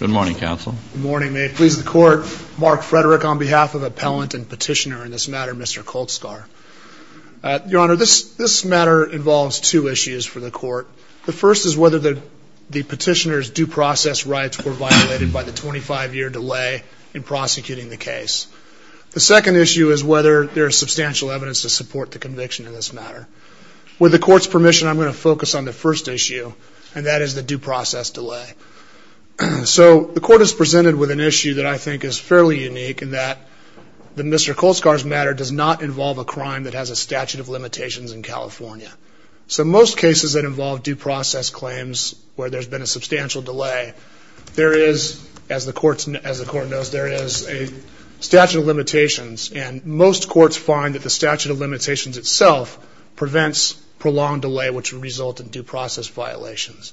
Good morning, counsel. Good morning. May it please the court, Mark Frederick on behalf of appellant and petitioner in this matter, Mr. Kulcsar. Your Honor, this matter involves two issues for the court. The first is whether the petitioner's due process rights were violated by the 25-year delay in prosecuting the case. The second issue is whether there is substantial evidence to support the conviction in this matter. With the court's permission, I'm going to focus on the first issue, and that is the due process delay. So the court is presented with an issue that I think is fairly unique in that the Mr. Kulcsar's matter does not involve a crime that has a statute of limitations in California. So most cases that involve due process claims where there's been a substantial delay, there is, as the court knows, there is a statute of limitations. And most courts find that the statute of limitations itself prevents prolonged delay, which would result in due process violations.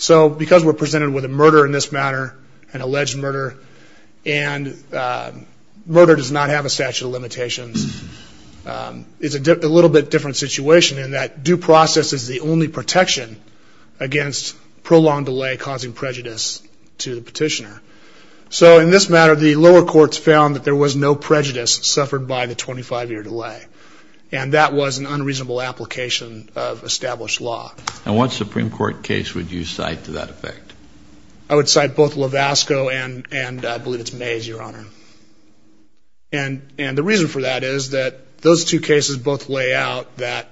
So because we're presented with a murder in this matter, an alleged murder, and murder does not have a statute of limitations, it's a little bit different situation in that due process is the only protection against prolonged delay causing prejudice to the petitioner. So in this matter, the lower courts found that there was no prejudice suffered by the 25-year delay, and that was an unreasonable application of established law. And what Supreme Court case would you cite to that effect? I would cite both Lavasco and I believe it's Mays, Your Honor. And the reason for that is that those two cases both lay out that,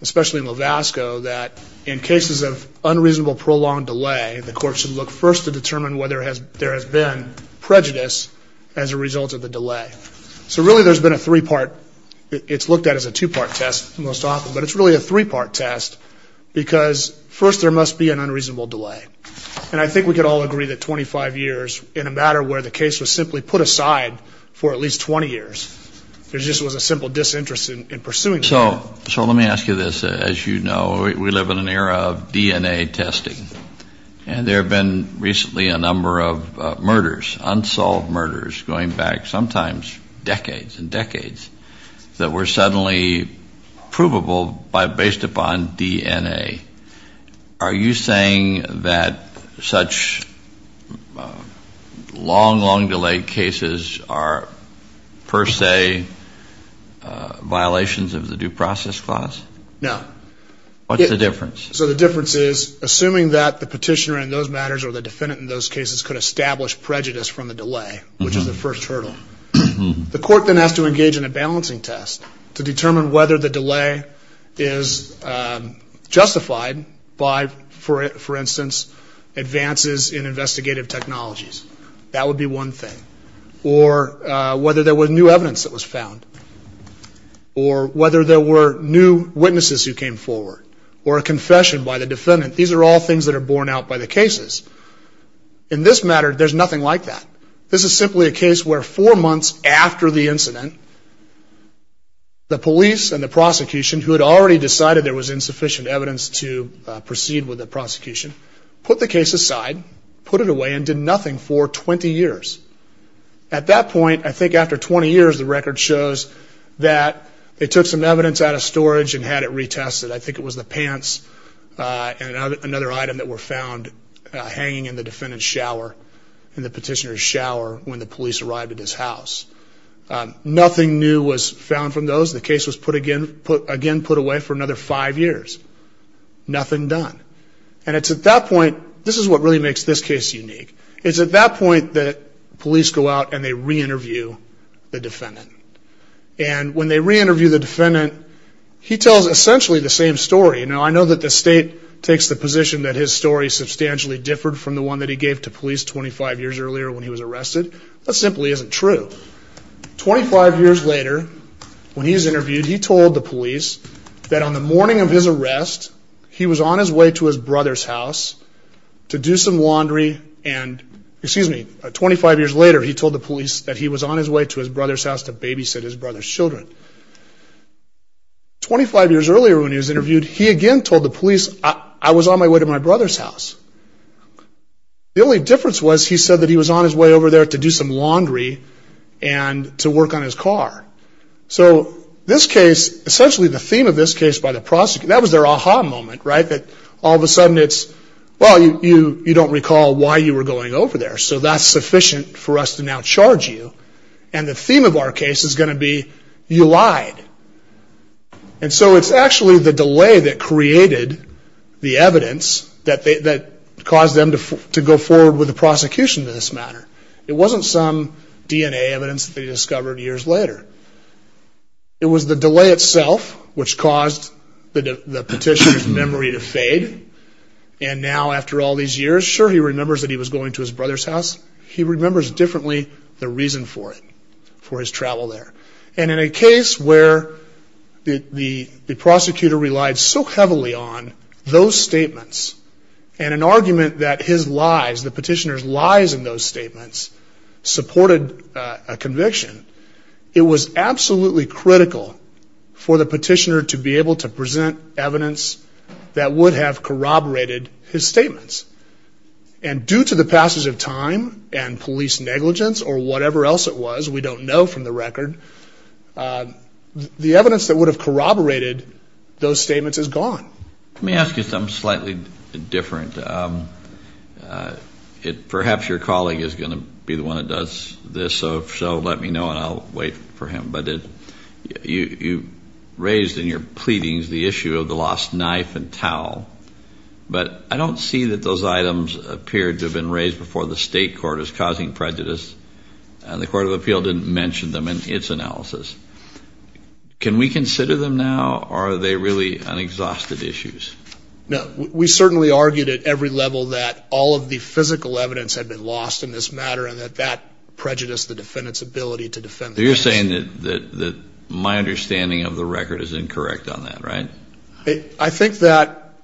especially in Lavasco, that in cases of unreasonable prolonged delay, the court should look first to determine whether there has been prejudice as a result of the delay. So really there's been a three-part, it's looked at as a two-part test most often, but it's really a three-part test because first there must be an unreasonable delay. And I think we could all agree that 25 years in a matter where the case was simply put aside for at least 20 years, there just was a simple disinterest in pursuing the matter. So let me ask you this. As you know, we live in an era of DNA testing. And there have been recently a number of murders, unsolved murders, going back sometimes decades and decades, that were suddenly provable based upon DNA. Are you saying that such long, long-delayed cases are per se violations of the Due Process Clause? No. What's the difference? So the difference is, assuming that the petitioner in those matters or the defendant in those cases could establish prejudice from the delay, which is the first hurdle, the court then has to engage in a balancing test to determine whether the delay is justified by, for instance, advances in investigative technologies. That would be one thing. Or whether there was new evidence that was found. Or whether there were new witnesses who came forward. Or a confession by the defendant. These are all things that are borne out by the cases. In this matter, there's nothing like that. This is simply a case where four months after the incident, the police and the prosecution, who had already decided there was insufficient evidence to proceed with the prosecution, put the case aside, put it away, and did nothing for 20 years. At that point, I think after 20 years, the record shows that they took some evidence out of storage and had it retested. I think it was the pants and another item that were found hanging in the defendant's shower, in the petitioner's shower, when the police arrived at his house. Nothing new was found from those. The case was again put away for another five years. Nothing done. And it's at that point, this is what really makes this case unique, it's at that point that police go out and they re-interview the defendant. And when they re-interview the defendant, he tells essentially the same story. Now, I know that the state takes the position that his story substantially differed from the one that he gave to police 25 years earlier when he was arrested. That simply isn't true. 25 years later, when he was interviewed, he told the police that on the morning of his arrest, he was on his way to his brother's house to do some laundry and, excuse me, 25 years later, he told the police that he was on his way to his brother's house to babysit his brother's children. 25 years earlier when he was interviewed, he again told the police, I was on my way to my brother's house. The only difference was he said that he was on his way over there to do some laundry and to work on his car. So this case, essentially the theme of this case by the prosecutor, that was their aha moment, right, that all of a sudden it's, well, you don't recall why you were going over there. So that's sufficient for us to now charge you. And the theme of our case is going to be you lied. And so it's actually the delay that created the evidence that caused them to go forward with the prosecution in this matter. It wasn't some DNA evidence that they discovered years later. It was the delay itself which caused the petitioner's memory to fade. And now after all these years, sure, he remembers that he was going to his brother's house. He remembers differently the reason for it, for his travel there. And in a case where the prosecutor relied so heavily on those statements and an argument that his lies, the petitioner's lies in those statements, supported a conviction, it was absolutely critical for the petitioner to be able to present evidence that would have corroborated his statements. And due to the passage of time and police negligence or whatever else it was, we don't know from the record, the evidence that would have corroborated those statements is gone. Let me ask you something slightly different. Perhaps your colleague is going to be the one that does this, so let me know and I'll wait for him. But you raised in your pleadings the issue of the lost knife and towel, but I don't see that those items appeared to have been raised before the state court as causing prejudice, and the Court of Appeal didn't mention them in its analysis. Can we consider them now, or are they really unexhausted issues? No, we certainly argued at every level that all of the physical evidence had been lost in this matter and that that prejudiced the defendant's ability to defend the case. So you're saying that my understanding of the record is incorrect on that, right? I think that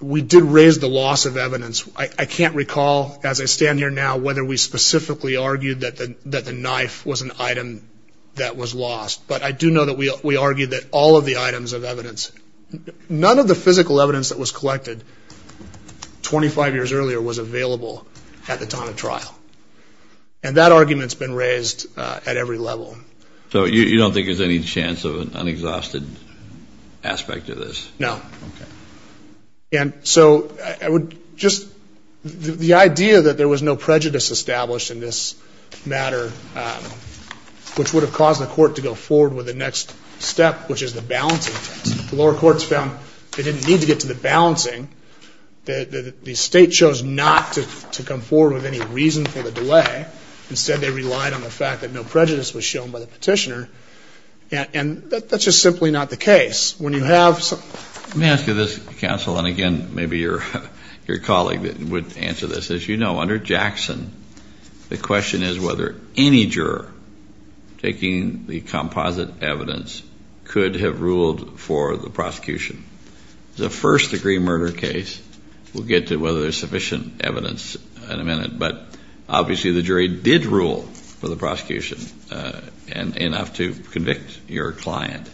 we did raise the loss of evidence. I can't recall as I stand here now whether we specifically argued that the knife was an item that was lost, but I do know that we argued that all of the items of evidence, none of the physical evidence that was collected 25 years earlier was available at the time of trial. And that argument's been raised at every level. So you don't think there's any chance of an unexhausted aspect of this? No. Okay. And so I would just the idea that there was no prejudice established in this matter, which would have caused the court to go forward with the next step, which is the balancing test. The lower courts found they didn't need to get to the balancing. The state chose not to come forward with any reason for the delay. Instead, they relied on the fact that no prejudice was shown by the petitioner. And that's just simply not the case. Let me ask you this, counsel, and, again, maybe your colleague would answer this. As you know, under Jackson, the question is whether any juror taking the composite evidence could have ruled for the prosecution. It's a first-degree murder case. We'll get to whether there's sufficient evidence in a minute. But obviously the jury did rule for the prosecution enough to convict your client.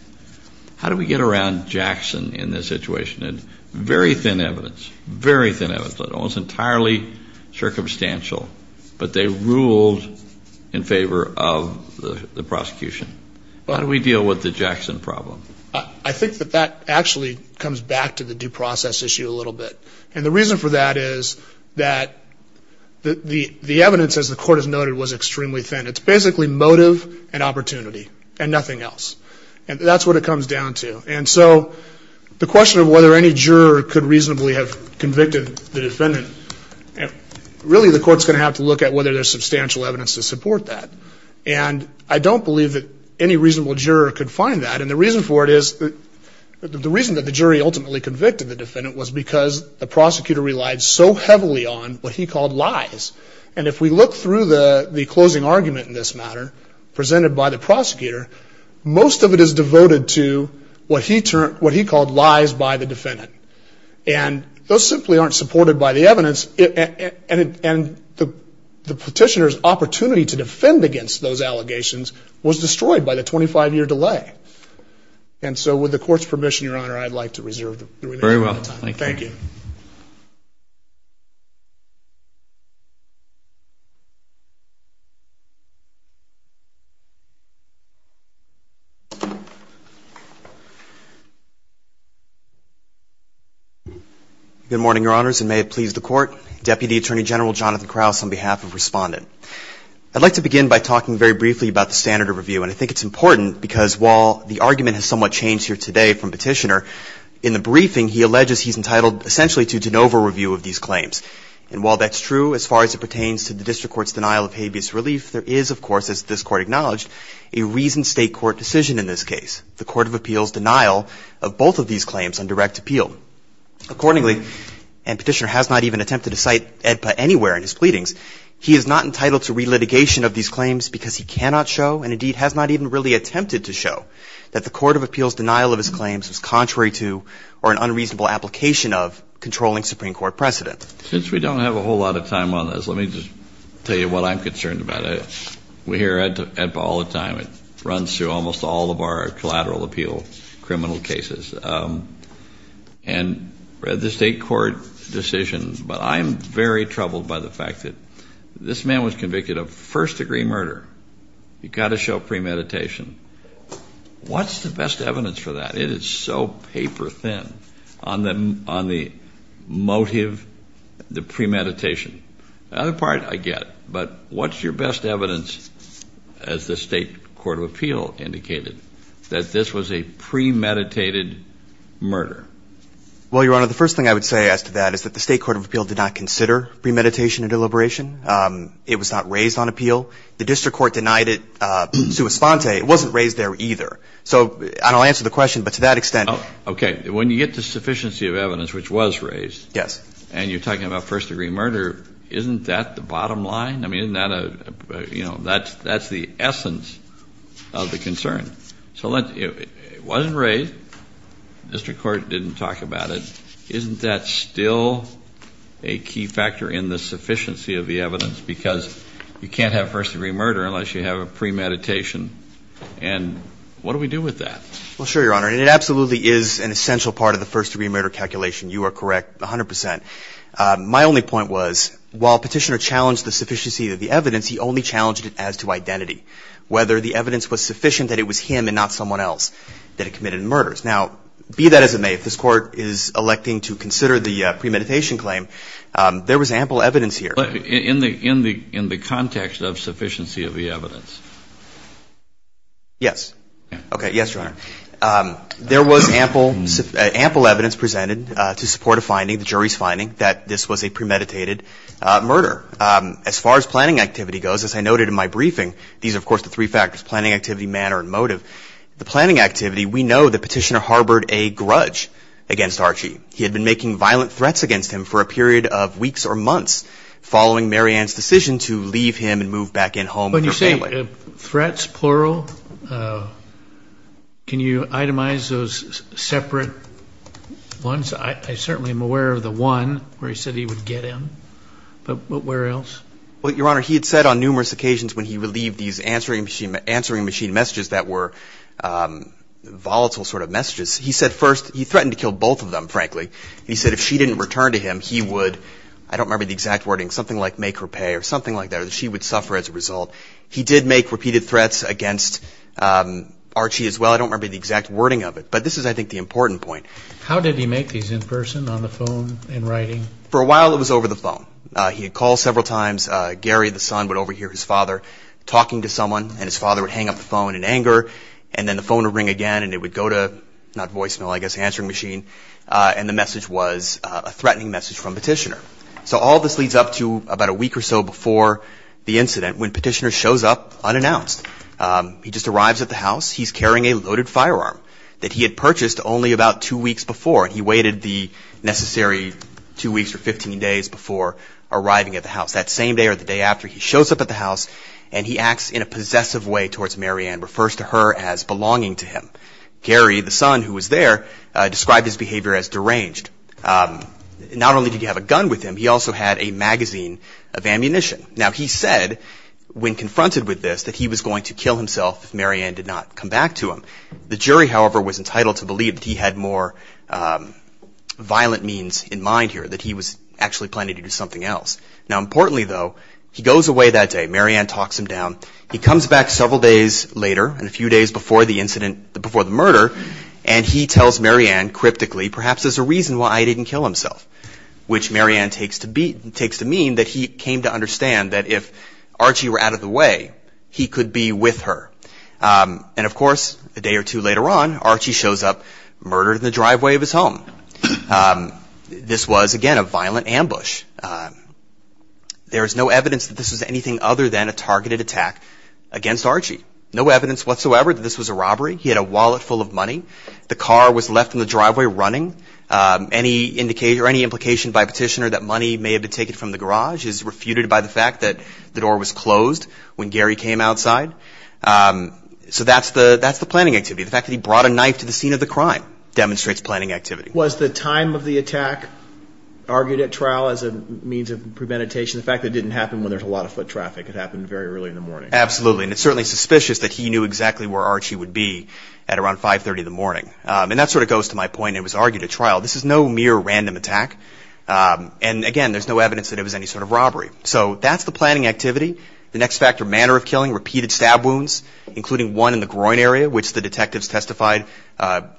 How do we get around Jackson in this situation? Very thin evidence, very thin evidence, almost entirely circumstantial, but they ruled in favor of the prosecution. How do we deal with the Jackson problem? I think that that actually comes back to the due process issue a little bit. And the reason for that is that the evidence, as the court has noted, was extremely thin. It's basically motive and opportunity and nothing else. And that's what it comes down to. And so the question of whether any juror could reasonably have convicted the defendant, really the court's going to have to look at whether there's substantial evidence to support that. And I don't believe that any reasonable juror could find that. And the reason for it is that the reason that the jury ultimately convicted the defendant was because the prosecutor relied so heavily on what he called lies. And if we look through the closing argument in this matter presented by the prosecutor, most of it is devoted to what he called lies by the defendant. And the petitioner's opportunity to defend against those allegations was destroyed by the 25-year delay. And so with the court's permission, Your Honor, I'd like to reserve the time. Very well. Thank you. Good morning, Your Honors, and may it please the Court. Deputy Attorney General Jonathan Krauss on behalf of Respondent. I'd like to begin by talking very briefly about the standard of review. And I think it's important because while the argument has somewhat changed here today from Petitioner, in the briefing, he alleges he's entitled essentially to de novo review of these claims. And while that's true as far as it pertains to the district court's denial of habeas relief, there is, of course, as this Court acknowledged, a reasoned State court decision in this case, the Court of Appeals' denial of both of these claims on direct appeal. Accordingly, and Petitioner has not even attempted to cite AEDPA anywhere in his pleadings, he is not entitled to relitigation of these claims because he cannot show, and indeed has not even really attempted to show, that the Court of Appeals' denial of his claims was contrary to or an unreasonable application of controlling Supreme Court precedent. Since we don't have a whole lot of time on this, let me just tell you what I'm concerned about. We hear AEDPA all the time. It runs through almost all of our collateral appeal criminal cases. And the State court decision. But I'm very troubled by the fact that this man was convicted of first-degree murder. You've got to show premeditation. What's the best evidence for that? It is so paper-thin on the motive, the premeditation. The other part I get. But what's your best evidence, as the State court of appeal indicated, that this was a premeditated murder? Well, Your Honor, the first thing I would say as to that is that the State court of appeal did not consider premeditation a deliberation. It was not raised on appeal. The district court denied it sui sponte. It wasn't raised there either. So I don't answer the question, but to that extent. Okay. When you get the sufficiency of evidence, which was raised. Yes. And you're talking about first-degree murder, isn't that the bottom line? I mean, isn't that a, you know, that's the essence of the concern. So it wasn't raised. The district court didn't talk about it. Isn't that still a key factor in the sufficiency of the evidence? Because you can't have first-degree murder unless you have a premeditation. And what do we do with that? Well, sure, Your Honor. And it absolutely is an essential part of the first-degree murder calculation. You are correct 100%. My only point was, while Petitioner challenged the sufficiency of the evidence, he only challenged it as to identity, whether the evidence was sufficient that it was him and not someone else that had committed the murders. Now, be that as it may, if this Court is electing to consider the premeditation claim, there was ample evidence here. But in the context of sufficiency of the evidence? Yes. Okay. Yes, Your Honor. There was ample evidence presented to support a finding, the jury's finding, that this was a premeditated murder. As far as planning activity goes, as I noted in my briefing, these are, of course, the three factors, planning activity, manner, and motive. The planning activity, we know that Petitioner harbored a grudge against Archie. He had been making violent threats against him for a period of weeks or months following Mary Ann's decision to leave him and move back in home with her family. When you say threats, plural, can you itemize those separate ones? I certainly am aware of the one where he said he would get him. But where else? Well, Your Honor, he had said on numerous occasions when he relieved these answering machine messages that were volatile sort of messages, he said first, he threatened to kill both of them, frankly. He said if she didn't return to him, he would, I don't remember the exact wording, something like make her pay or something like that, or that she would suffer as a result. He did make repeated threats against Archie as well. I don't remember the exact wording of it. But this is, I think, the important point. How did he make these in person, on the phone, in writing? For a while it was over the phone. He had called several times. Gary, the son, would overhear his father talking to someone, and his father would hang up the phone in anger, and then the phone would ring again, and it would go to, not voicemail, I guess, answering machine, and the message was a threatening message from Petitioner. So all this leads up to about a week or so before the incident, when Petitioner shows up unannounced. He just arrives at the house. He's carrying a loaded firearm that he had purchased only about two weeks before, and he waited the necessary two weeks or 15 days before arriving at the house. That same day or the day after, he shows up at the house, and he acts in a possessive way towards Marianne, refers to her as belonging to him. Gary, the son who was there, described his behavior as deranged. Not only did he have a gun with him, he also had a magazine of ammunition. Now, he said, when confronted with this, that he was going to kill himself if Marianne did not come back to him. The jury, however, was entitled to believe that he had more violent means in mind here, that he was actually planning to do something else. Now, importantly, though, he goes away that day. Marianne talks him down. He comes back several days later, a few days before the murder, and he tells Marianne, cryptically, perhaps there's a reason why he didn't kill himself, which Marianne takes to mean that he came to understand that if Archie were out of the way, he could be with her. And, of course, a day or two later on, Archie shows up, murdered in the driveway of his home. This was, again, a violent ambush. There is no evidence that this was anything other than a targeted attack against Archie. No evidence whatsoever that this was a robbery. He had a wallet full of money. The car was left in the driveway running. Any implication by a petitioner that money may have been taken from the garage is refuted by the fact that the door was closed when Gary came outside. So that's the planning activity. The fact that he brought a knife to the scene of the crime demonstrates planning activity. Was the time of the attack argued at trial as a means of premeditation? The fact that it didn't happen when there's a lot of foot traffic. It happened very early in the morning. Absolutely. And it's certainly suspicious that he knew exactly where Archie would be at around 530 in the morning. And that sort of goes to my point, it was argued at trial. This is no mere random attack. And, again, there's no evidence that it was any sort of robbery. So that's the planning activity. The next factor, manner of killing, repeated stab wounds, including one in the groin area, which the detectives testified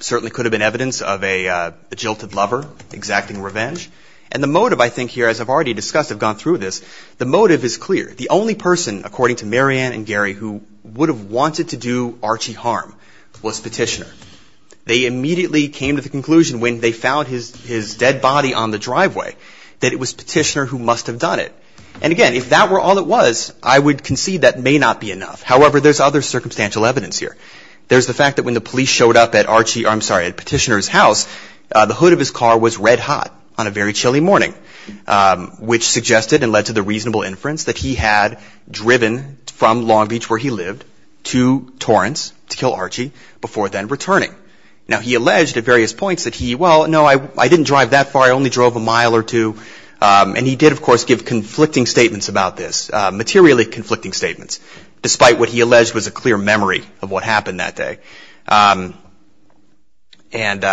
certainly could have been evidence of a jilted lover exacting revenge. And the motive, I think here, as I've already discussed, I've gone through this, the motive is clear. The only person, according to Mary Ann and Gary, who would have wanted to do Archie harm was petitioner. They immediately came to the conclusion when they found his dead body on the driveway that it was petitioner who must have done it. And, again, if that were all it was, I would concede that may not be enough. However, there's other circumstantial evidence here. There's the fact that when the police showed up at Petitioner's house, the hood of his car was red hot on a very chilly morning, which suggested and led to the reasonable inference that he had driven from Long Beach where he lived to Torrance to kill Archie before then returning. Now, he alleged at various points that he, well, no, I didn't drive that far, I only drove a mile or two. And he did, of course, give conflicting statements about this, materially conflicting statements, despite what he alleged was a clear memory of what happened that day. And an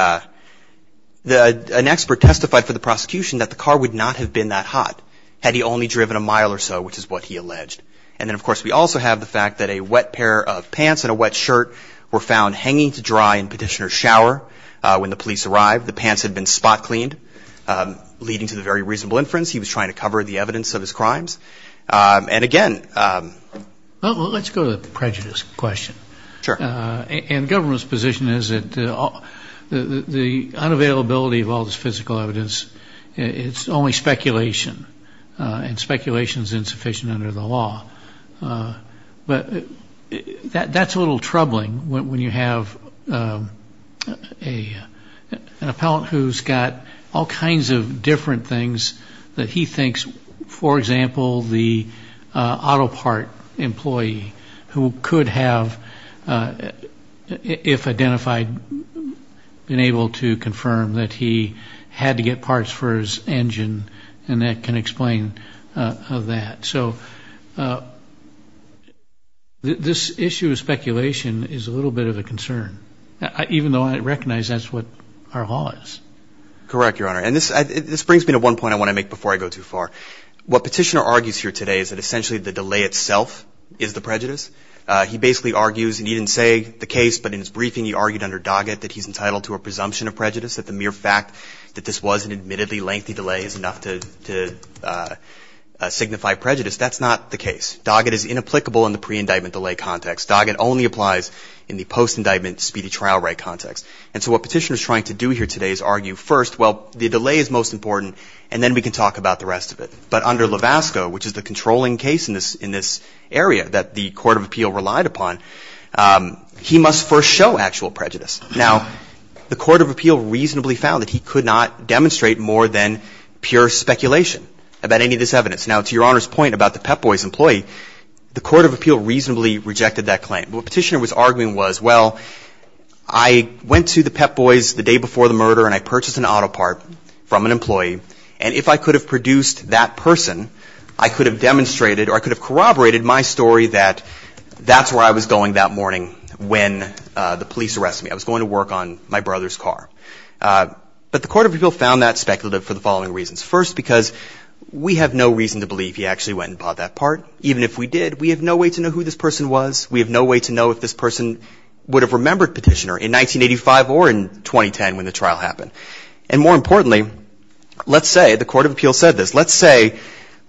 expert testified for the prosecution that the car would not have been that hot had he only driven a mile or so, which is what he alleged. And then, of course, we also have the fact that a wet pair of pants and a wet shirt were found hanging to dry in Petitioner's shower when the police arrived. The pants had been spot cleaned, leading to the very reasonable inference he was trying to cover the evidence of his crimes. And, again, Well, let's go to the prejudice question. Sure. And the government's position is that the unavailability of all this physical evidence, it's only speculation, and speculation is insufficient under the law. But that's a little troubling when you have an appellant who's got all kinds of different things that he thinks, for example, the auto part employee who could have, if identified, been able to confirm that he had to get parts for his engine, and that can explain that. So this issue of speculation is a little bit of a concern, even though I recognize that's what our law is. Correct, Your Honor. And this brings me to one point I want to make before I go too far. What Petitioner argues here today is that essentially the delay itself is the prejudice. He basically argues, and he didn't say the case, but in his briefing, he argued under Doggett that he's entitled to a presumption of prejudice, that the mere fact that this was an admittedly lengthy delay is enough to signify prejudice. That's not the case. Doggett is inapplicable in the pre-indictment delay context. Doggett only applies in the post-indictment speedy trial right context. And so what Petitioner is trying to do here today is argue first, well, the delay is most important, and then we can talk about the rest of it. But under Levasco, which is the controlling case in this area that the Court of Appeal relied upon, he must first show actual prejudice. Now, the Court of Appeal reasonably found that he could not demonstrate more than pure speculation about any of this evidence. Now, to Your Honor's point about the Pep Boys employee, the Court of Appeal reasonably rejected that claim. What Petitioner was arguing was, well, I went to the Pep Boys the day before the murder and I purchased an auto part from an employee, and if I could have produced that person, I could have demonstrated or I could have corroborated my story that that's where I was going that morning when the police arrested me. I was going to work on my brother's car. But the Court of Appeal found that speculative for the following reasons. First, because we have no reason to believe he actually went and bought that part. Even if we did, we have no way to know who this person was. We have no way to know if this person would have remembered Petitioner in 1985 or in 2010 when the trial happened. And more importantly, let's say the Court of Appeal said this. Let's say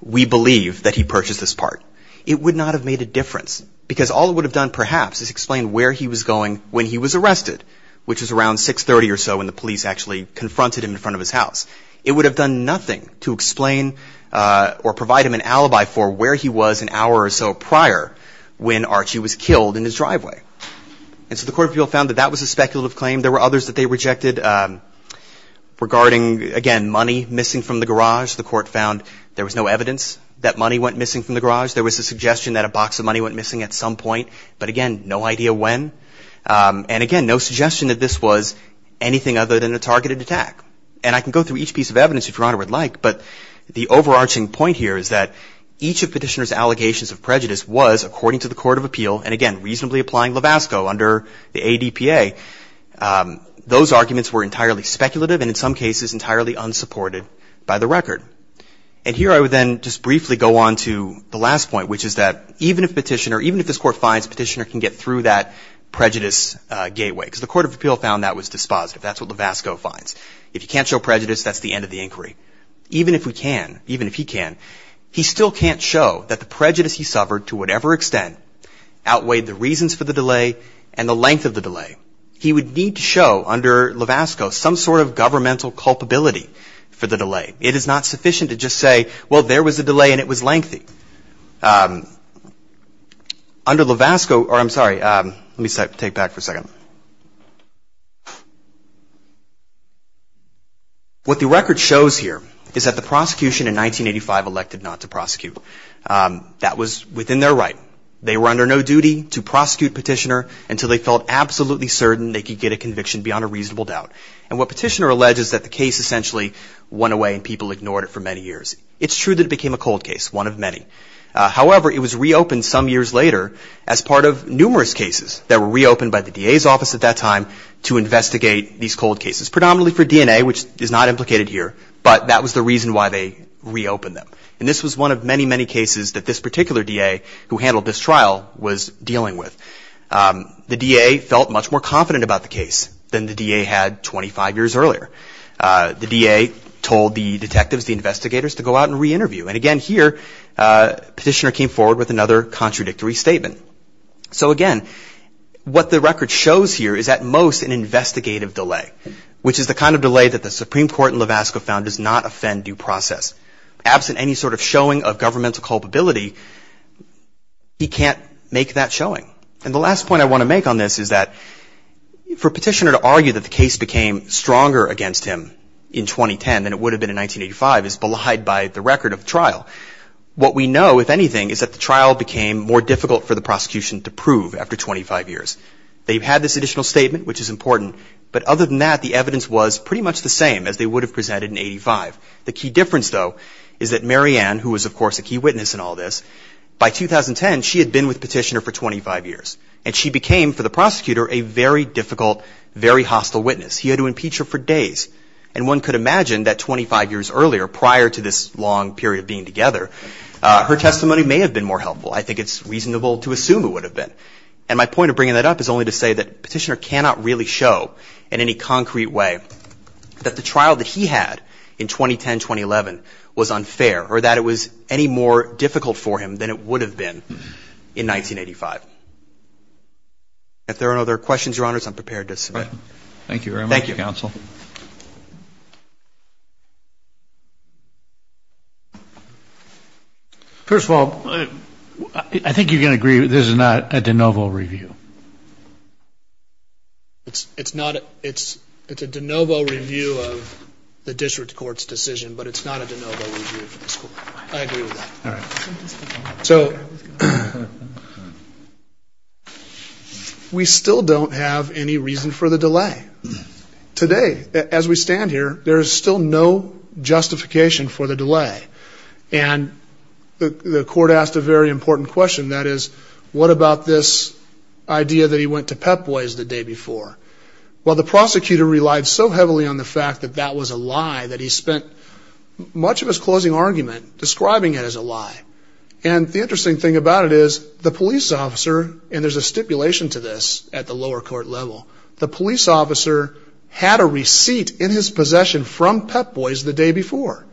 we believe that he purchased this part. It would not have made a difference because all it would have done perhaps is explain where he was going when he was arrested, which was around 630 or so when the police actually confronted him in front of his house. It would have done nothing to explain or provide him an alibi for where he was an hour or so prior when Archie was killed in his driveway. And so the Court of Appeal found that that was a speculative claim. There were others that they rejected regarding, again, money missing from the garage. The Court found there was no evidence that money went missing from the garage. There was a suggestion that a box of money went missing at some point, but, again, no idea when. And, again, no suggestion that this was anything other than a targeted attack. And I can go through each piece of evidence if Your Honor would like, but the overarching point here is that each of Petitioner's allegations of prejudice was, according to the Court of Appeal, and, again, reasonably applying Levasco under the ADPA, those arguments were entirely speculative and, in some cases, entirely unsupported by the record. And here I would then just briefly go on to the last point, which is that even if Petitioner, even if this Court finds Petitioner can get through that prejudice gateway, because the Court of Appeal found that was dispositive. That's what Levasco finds. If you can't show prejudice, that's the end of the inquiry. Even if we can, even if he can, he still can't show that the prejudice he suffered, to whatever extent, outweighed the reasons for the delay and the length of the delay. He would need to show, under Levasco, some sort of governmental culpability for the delay. It is not sufficient to just say, well, there was a delay and it was lengthy. Under Levasco, or I'm sorry, let me take it back for a second. What the record shows here is that the prosecution in 1985 elected not to prosecute. That was within their right. They were under no duty to prosecute Petitioner until they felt absolutely certain they could get a conviction beyond a reasonable doubt. And what Petitioner alleges is that the case essentially went away and people ignored it for many years. It's true that it became a cold case, one of many. However, it was reopened some years later as part of numerous cases that were reopened by the DA's office at that time to investigate these cold cases. Predominantly for DNA, which is not implicated here, but that was the reason why they reopened them. And this was one of many, many cases that this particular DA, who handled this trial, was dealing with. The DA felt much more confident about the case than the DA had 25 years earlier. The DA told the detectives, the investigators, to go out and re-interview. And again here, Petitioner came forward with another contradictory statement. So again, what the record shows here is at most an investigative delay, which is the kind of delay that the Supreme Court in Lavasco found does not offend due process. Absent any sort of showing of governmental culpability, he can't make that showing. And the last point I want to make on this is that for Petitioner to argue that the case became stronger against him in 2010 than it would have been in 1985 is belied by the record of the trial. What we know, if anything, is that the trial became more difficult for the prosecution to prove after 25 years. They've had this additional statement, which is important, but other than that, the evidence was pretty much the same as they would have presented in 85. The key difference, though, is that Mary Ann, who was of course a key witness in all this, by 2010, she had been with Petitioner for 25 years. And she became, for the prosecutor, a very difficult, very hostile witness. He had to impeach her for days. And one could imagine that 25 years earlier, prior to this long period of being together, her testimony may have been more helpful. I think it's reasonable to assume it would have been. And my point of bringing that up is only to say that Petitioner cannot really show in any concrete way that the trial that he had in 2010-2011 was unfair or that it was any more difficult for him than it would have been in 1985. If there are no other questions, Your Honors, I'm prepared to submit. Okay. Thank you very much, Counsel. Thank you. First of all, I think you can agree that this is not a de novo review. It's not. It's a de novo review of the district court's decision, but it's not a de novo review. I agree with that. All right. So we still don't have any reason for the delay. Today, as we stand here, there is still no justification for the delay. And the court asked a very important question, that is, what about this idea that he went to Pep Boys the day before? Well, the prosecutor relied so heavily on the fact that that was a lie that he spent much of his closing argument describing it as a lie. And the interesting thing about it is the police officer, and there's a stipulation to this at the lower court level, the police officer had a receipt in his possession from Pep Boys the day before.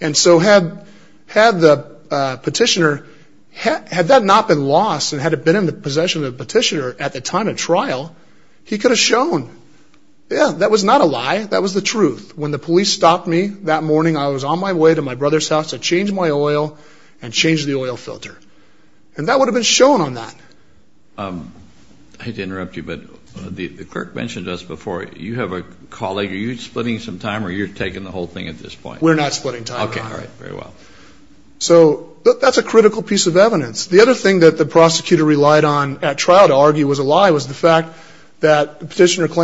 And so had the petitioner, had that not been lost and had it been in the possession of the petitioner at the time of trial, he could have shown, yeah, that was not a lie. That was the truth. When the police stopped me that morning, I was on my way to my brother's house to change my oil and change the oil filter. And that would have been shown on that. I hate to interrupt you, but the clerk mentioned this before. You have a colleague. Are you splitting some time or are you taking the whole thing at this point? We're not splitting time. Okay. All right. Very well. So that's a critical piece of evidence. And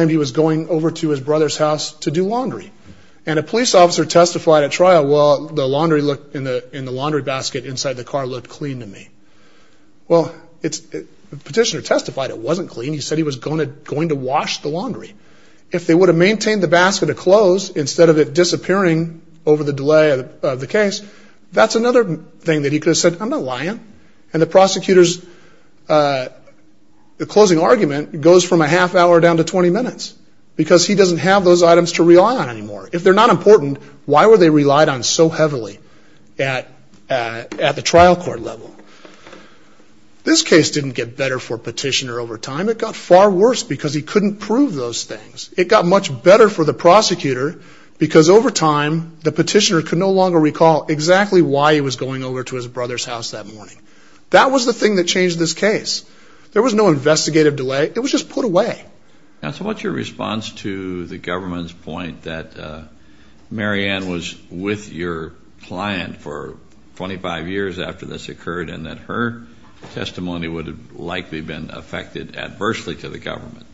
he was going over to his brother's house to do laundry. And a police officer testified at trial, well, the laundry in the laundry basket inside the car looked clean to me. Well, the petitioner testified it wasn't clean. He said he was going to wash the laundry. If they would have maintained the basket of clothes instead of it disappearing over the delay of the case, that's another thing that he could have said, I'm not lying. And the prosecutor's closing argument goes from a half hour down to 20 minutes because he doesn't have those items to rely on anymore. If they're not important, why were they relied on so heavily at the trial court level? This case didn't get better for petitioner over time. It got far worse because he couldn't prove those things. It got much better for the prosecutor because over time, the petitioner could no longer recall exactly why he was going over to his brother's house that morning. That was the thing that changed this case. There was no investigative delay. It was just put away. Now, so what's your response to the government's point that Mary Ann was with your client for 25 years after this occurred and that her testimony would have likely been affected adversely to the government?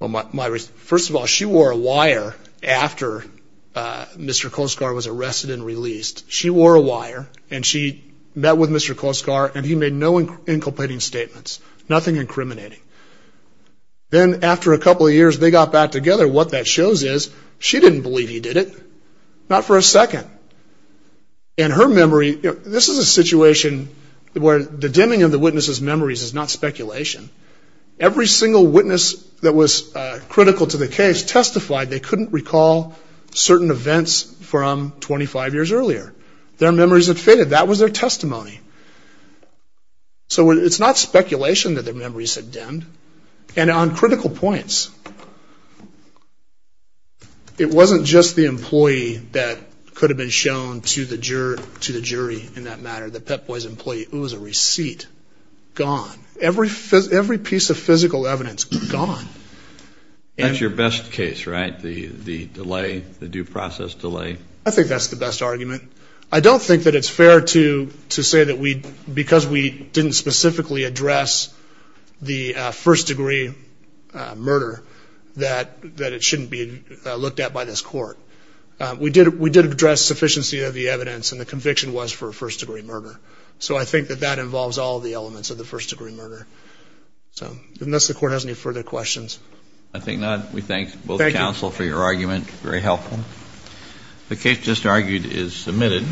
Well, first of all, she wore a wire after Mr. Koskar was arrested and released. She wore a wire and she met with Mr. Koskar and he made no inculpating statements, nothing incriminating. Then after a couple of years, they got back together. What that shows is she didn't believe he did it, not for a second. And her memory, this is a situation where the dimming of the witness's memories is not speculation. Every single witness that was critical to the case testified they couldn't recall certain events from 25 years earlier. Their memories had faded. That was their testimony. So it's not speculation that their memories had dimmed. And on critical points, it wasn't just the employee that could have been shown to the jury in that matter, it was a receipt, gone. Every piece of physical evidence, gone. That's your best case, right, the delay, the due process delay? I think that's the best argument. I don't think that it's fair to say that because we didn't specifically address the first degree murder, that it shouldn't be looked at by this court. We did address sufficiency of the evidence and the conviction was for a first degree murder. So I think that that involves all the elements of the first degree murder. Unless the court has any further questions. I think that we thank both counsel for your argument, very helpful. The case just argued is submitted.